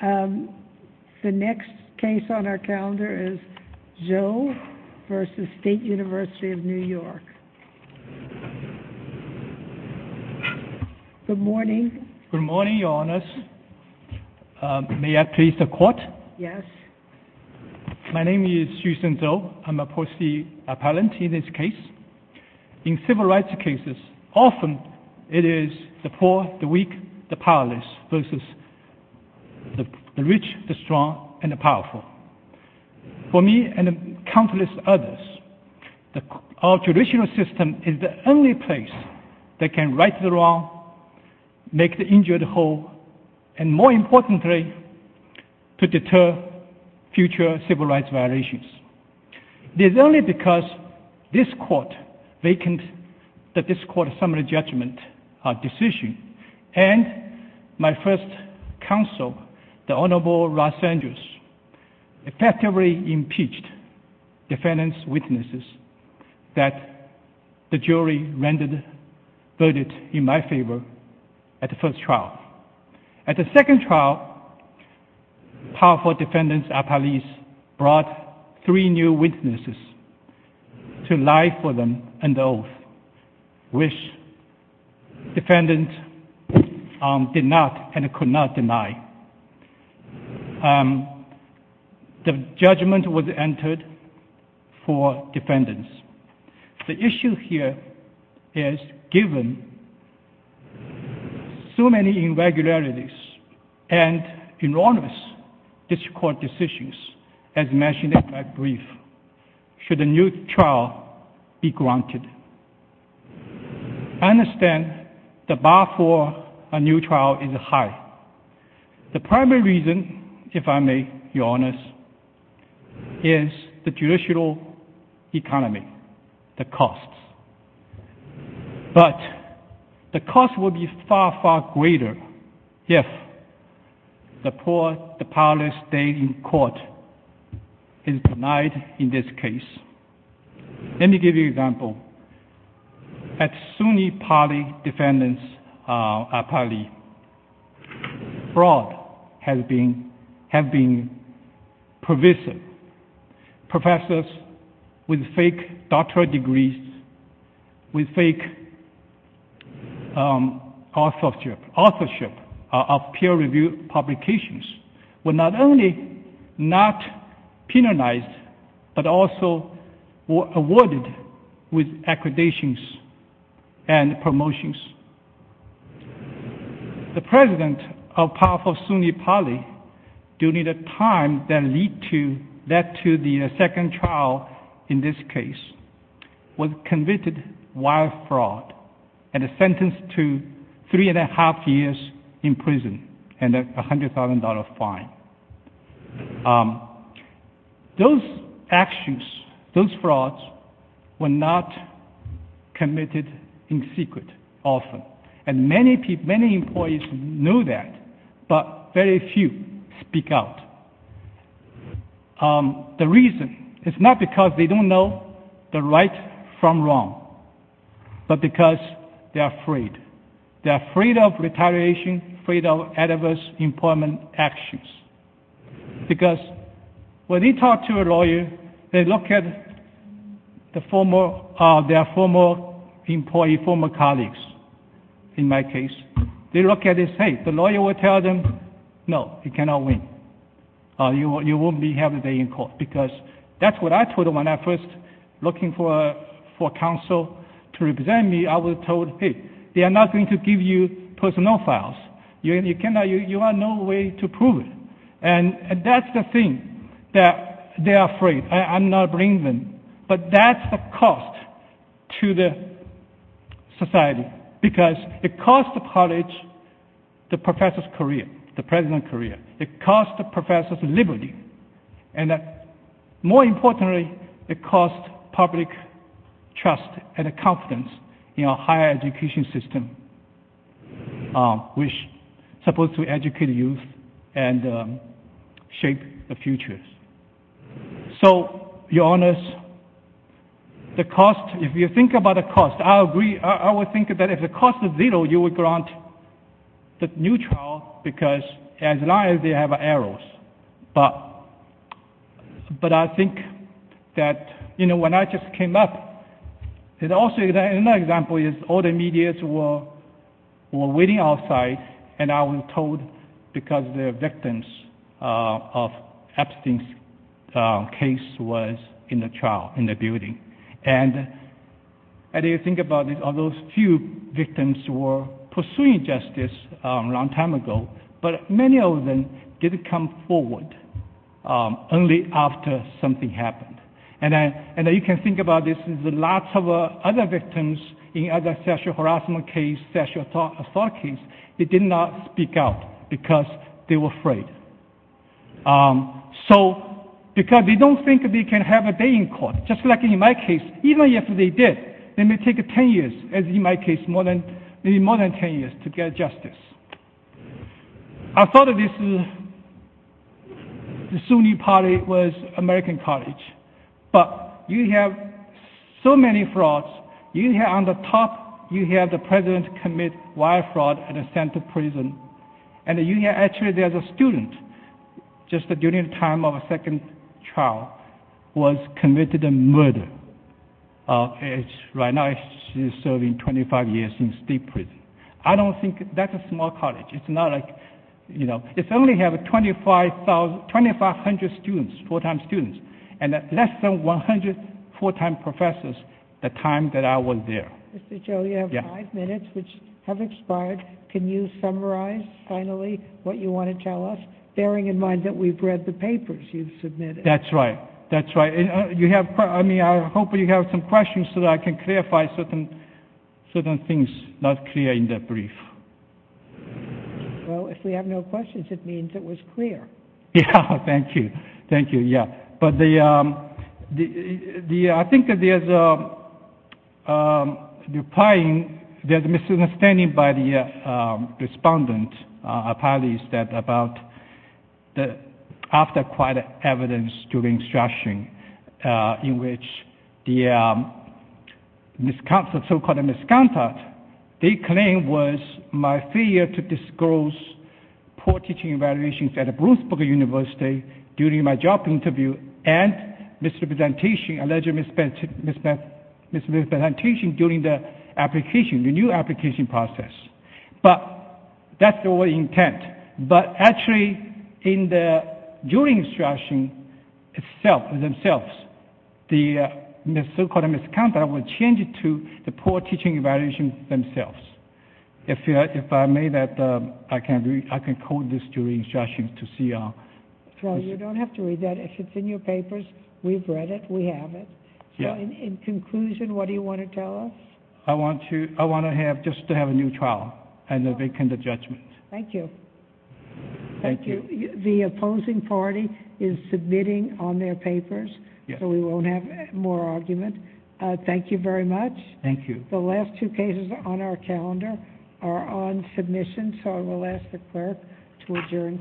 The next case on our calendar is Zhou versus State University of New York. Good morning. Good morning, Your Honours. May I please the court? Yes. My name is Susan Zhou. I'm a policy appellant in this case. In civil rights cases, often it is the poor, the weak, the powerless versus the rich, the strong, and the powerful. For me and countless others, our judicial system is the only place that can right the wrong, make the injured whole, and more importantly, to deter future civil rights violations. This is only because this court vacant the court's summary judgment decision, and my first counsel, the Honourable Ross Andrews, effectively impeached defendants' witnesses that the jury rendered verdict in my favour at the first trial. At the second trial, powerful defendants' appellees brought three new witnesses to lie for them under oath, which defendants did not and could not deny. The judgment was entered for defendants. The issue here is, given so many irregularities and enormous discord decisions, as mentioned in my brief, should a new trial be granted? I understand the bar for a new trial is high. The primary reason, if I may be honest, is the judicial economy, the costs. But the cost would be far, far greater if the poor, the powerless state in court is denied in this case. Let me give you an example. At SUNY Pali defendants' appellee, fraud has been pervasive. Professors with fake doctorate degrees, with fake authorship of peer-reviewed publications were not only not penalized, but also were awarded with accreditations and promotions. The president of powerful SUNY Pali, during the time that led to the second trial in this case, was convicted of wild fraud and sentenced to three and a half years in prison and a $100,000 fine. Those actions, those frauds, were not committed in secret often. And many employees know that, but very few speak out. The reason is not because they don't know the right from wrong, but because they are afraid. They are afraid of retaliation, afraid of adverse employment actions. Because when they talk to a lawyer, they look at their former employees, former colleagues, in my case. They look at it and say, the lawyer will tell them, no, you cannot win. You won't have a day in court. Because that's what I told them when I was first looking for counsel to represent me. I was told, hey, they are not going to give you personal files. You are no way to prove it. And that's the thing, that they are afraid. I'm not blaming them. But that's the cost to the society. Because it cost the college the professor's career, the president's career. It cost the professor's liberty. And more importantly, it cost public trust and confidence in our higher education system, which is supposed to educate youth and shape the future. So, Your Honors, the cost, if you think about the cost, I agree, I would think that if the cost is zero, you would grant the new child, because as long as they have arrows. But I think that, you know, when I just came up, another example is all the medias were waiting outside, and I was told because the victims of Epstein's case was in the trial, in the building. And if you think about it, all those few victims were pursuing justice a long time ago, but many of them didn't come forward, only after something happened. And you can think about this, lots of other victims in other sexual harassment cases, sexual assault cases, they did not speak out because they were afraid. So, because they don't think they can have a day in court, just like in my case, even if they did, it may take 10 years, as in my case, maybe more than 10 years to get justice. I thought the Sunni party was American college, but you have so many frauds. You have on the top, you have the president commit wire fraud at a center prison, and actually there's a student, just during the time of a second trial, who was committed a murder. Right now she's serving 25 years in state prison. I don't think that's a small college. It's not like, you know, it's only have 2,500 students, full-time students, and less than 100 full-time professors the time that I was there. Mr. Cho, you have five minutes, which have expired. Can you summarize finally what you want to tell us, bearing in mind that we've read the papers you've submitted? That's right. That's right. I mean, I hope you have some questions so that I can clarify certain things not clear in the brief. Well, if we have no questions, it means it was clear. Yeah, thank you. Thank you, yeah. But I think there's a misunderstanding by the respondent, apparently it's about after quite evidence during strashing, in which the so-called misconduct they claim was my failure to disclose poor teaching evaluations at the Brooksburg University during my job interview and misrepresentation during the application, the new application process. But that's the only intent. But actually during the strashing themselves, the so-called misconduct was changed to the poor teaching evaluations themselves. If I may, I can code this during strashing to see. Well, you don't have to read that. If it's in your papers, we've read it, we have it. So in conclusion, what do you want to tell us? I want to have just to have a new trial and a vacant judgment. Thank you. Thank you. The opposing party is submitting on their papers, so we won't have more argument. Thank you very much. Thank you. The last two cases on our calendar are on submission, so I will ask the clerk to adjourn.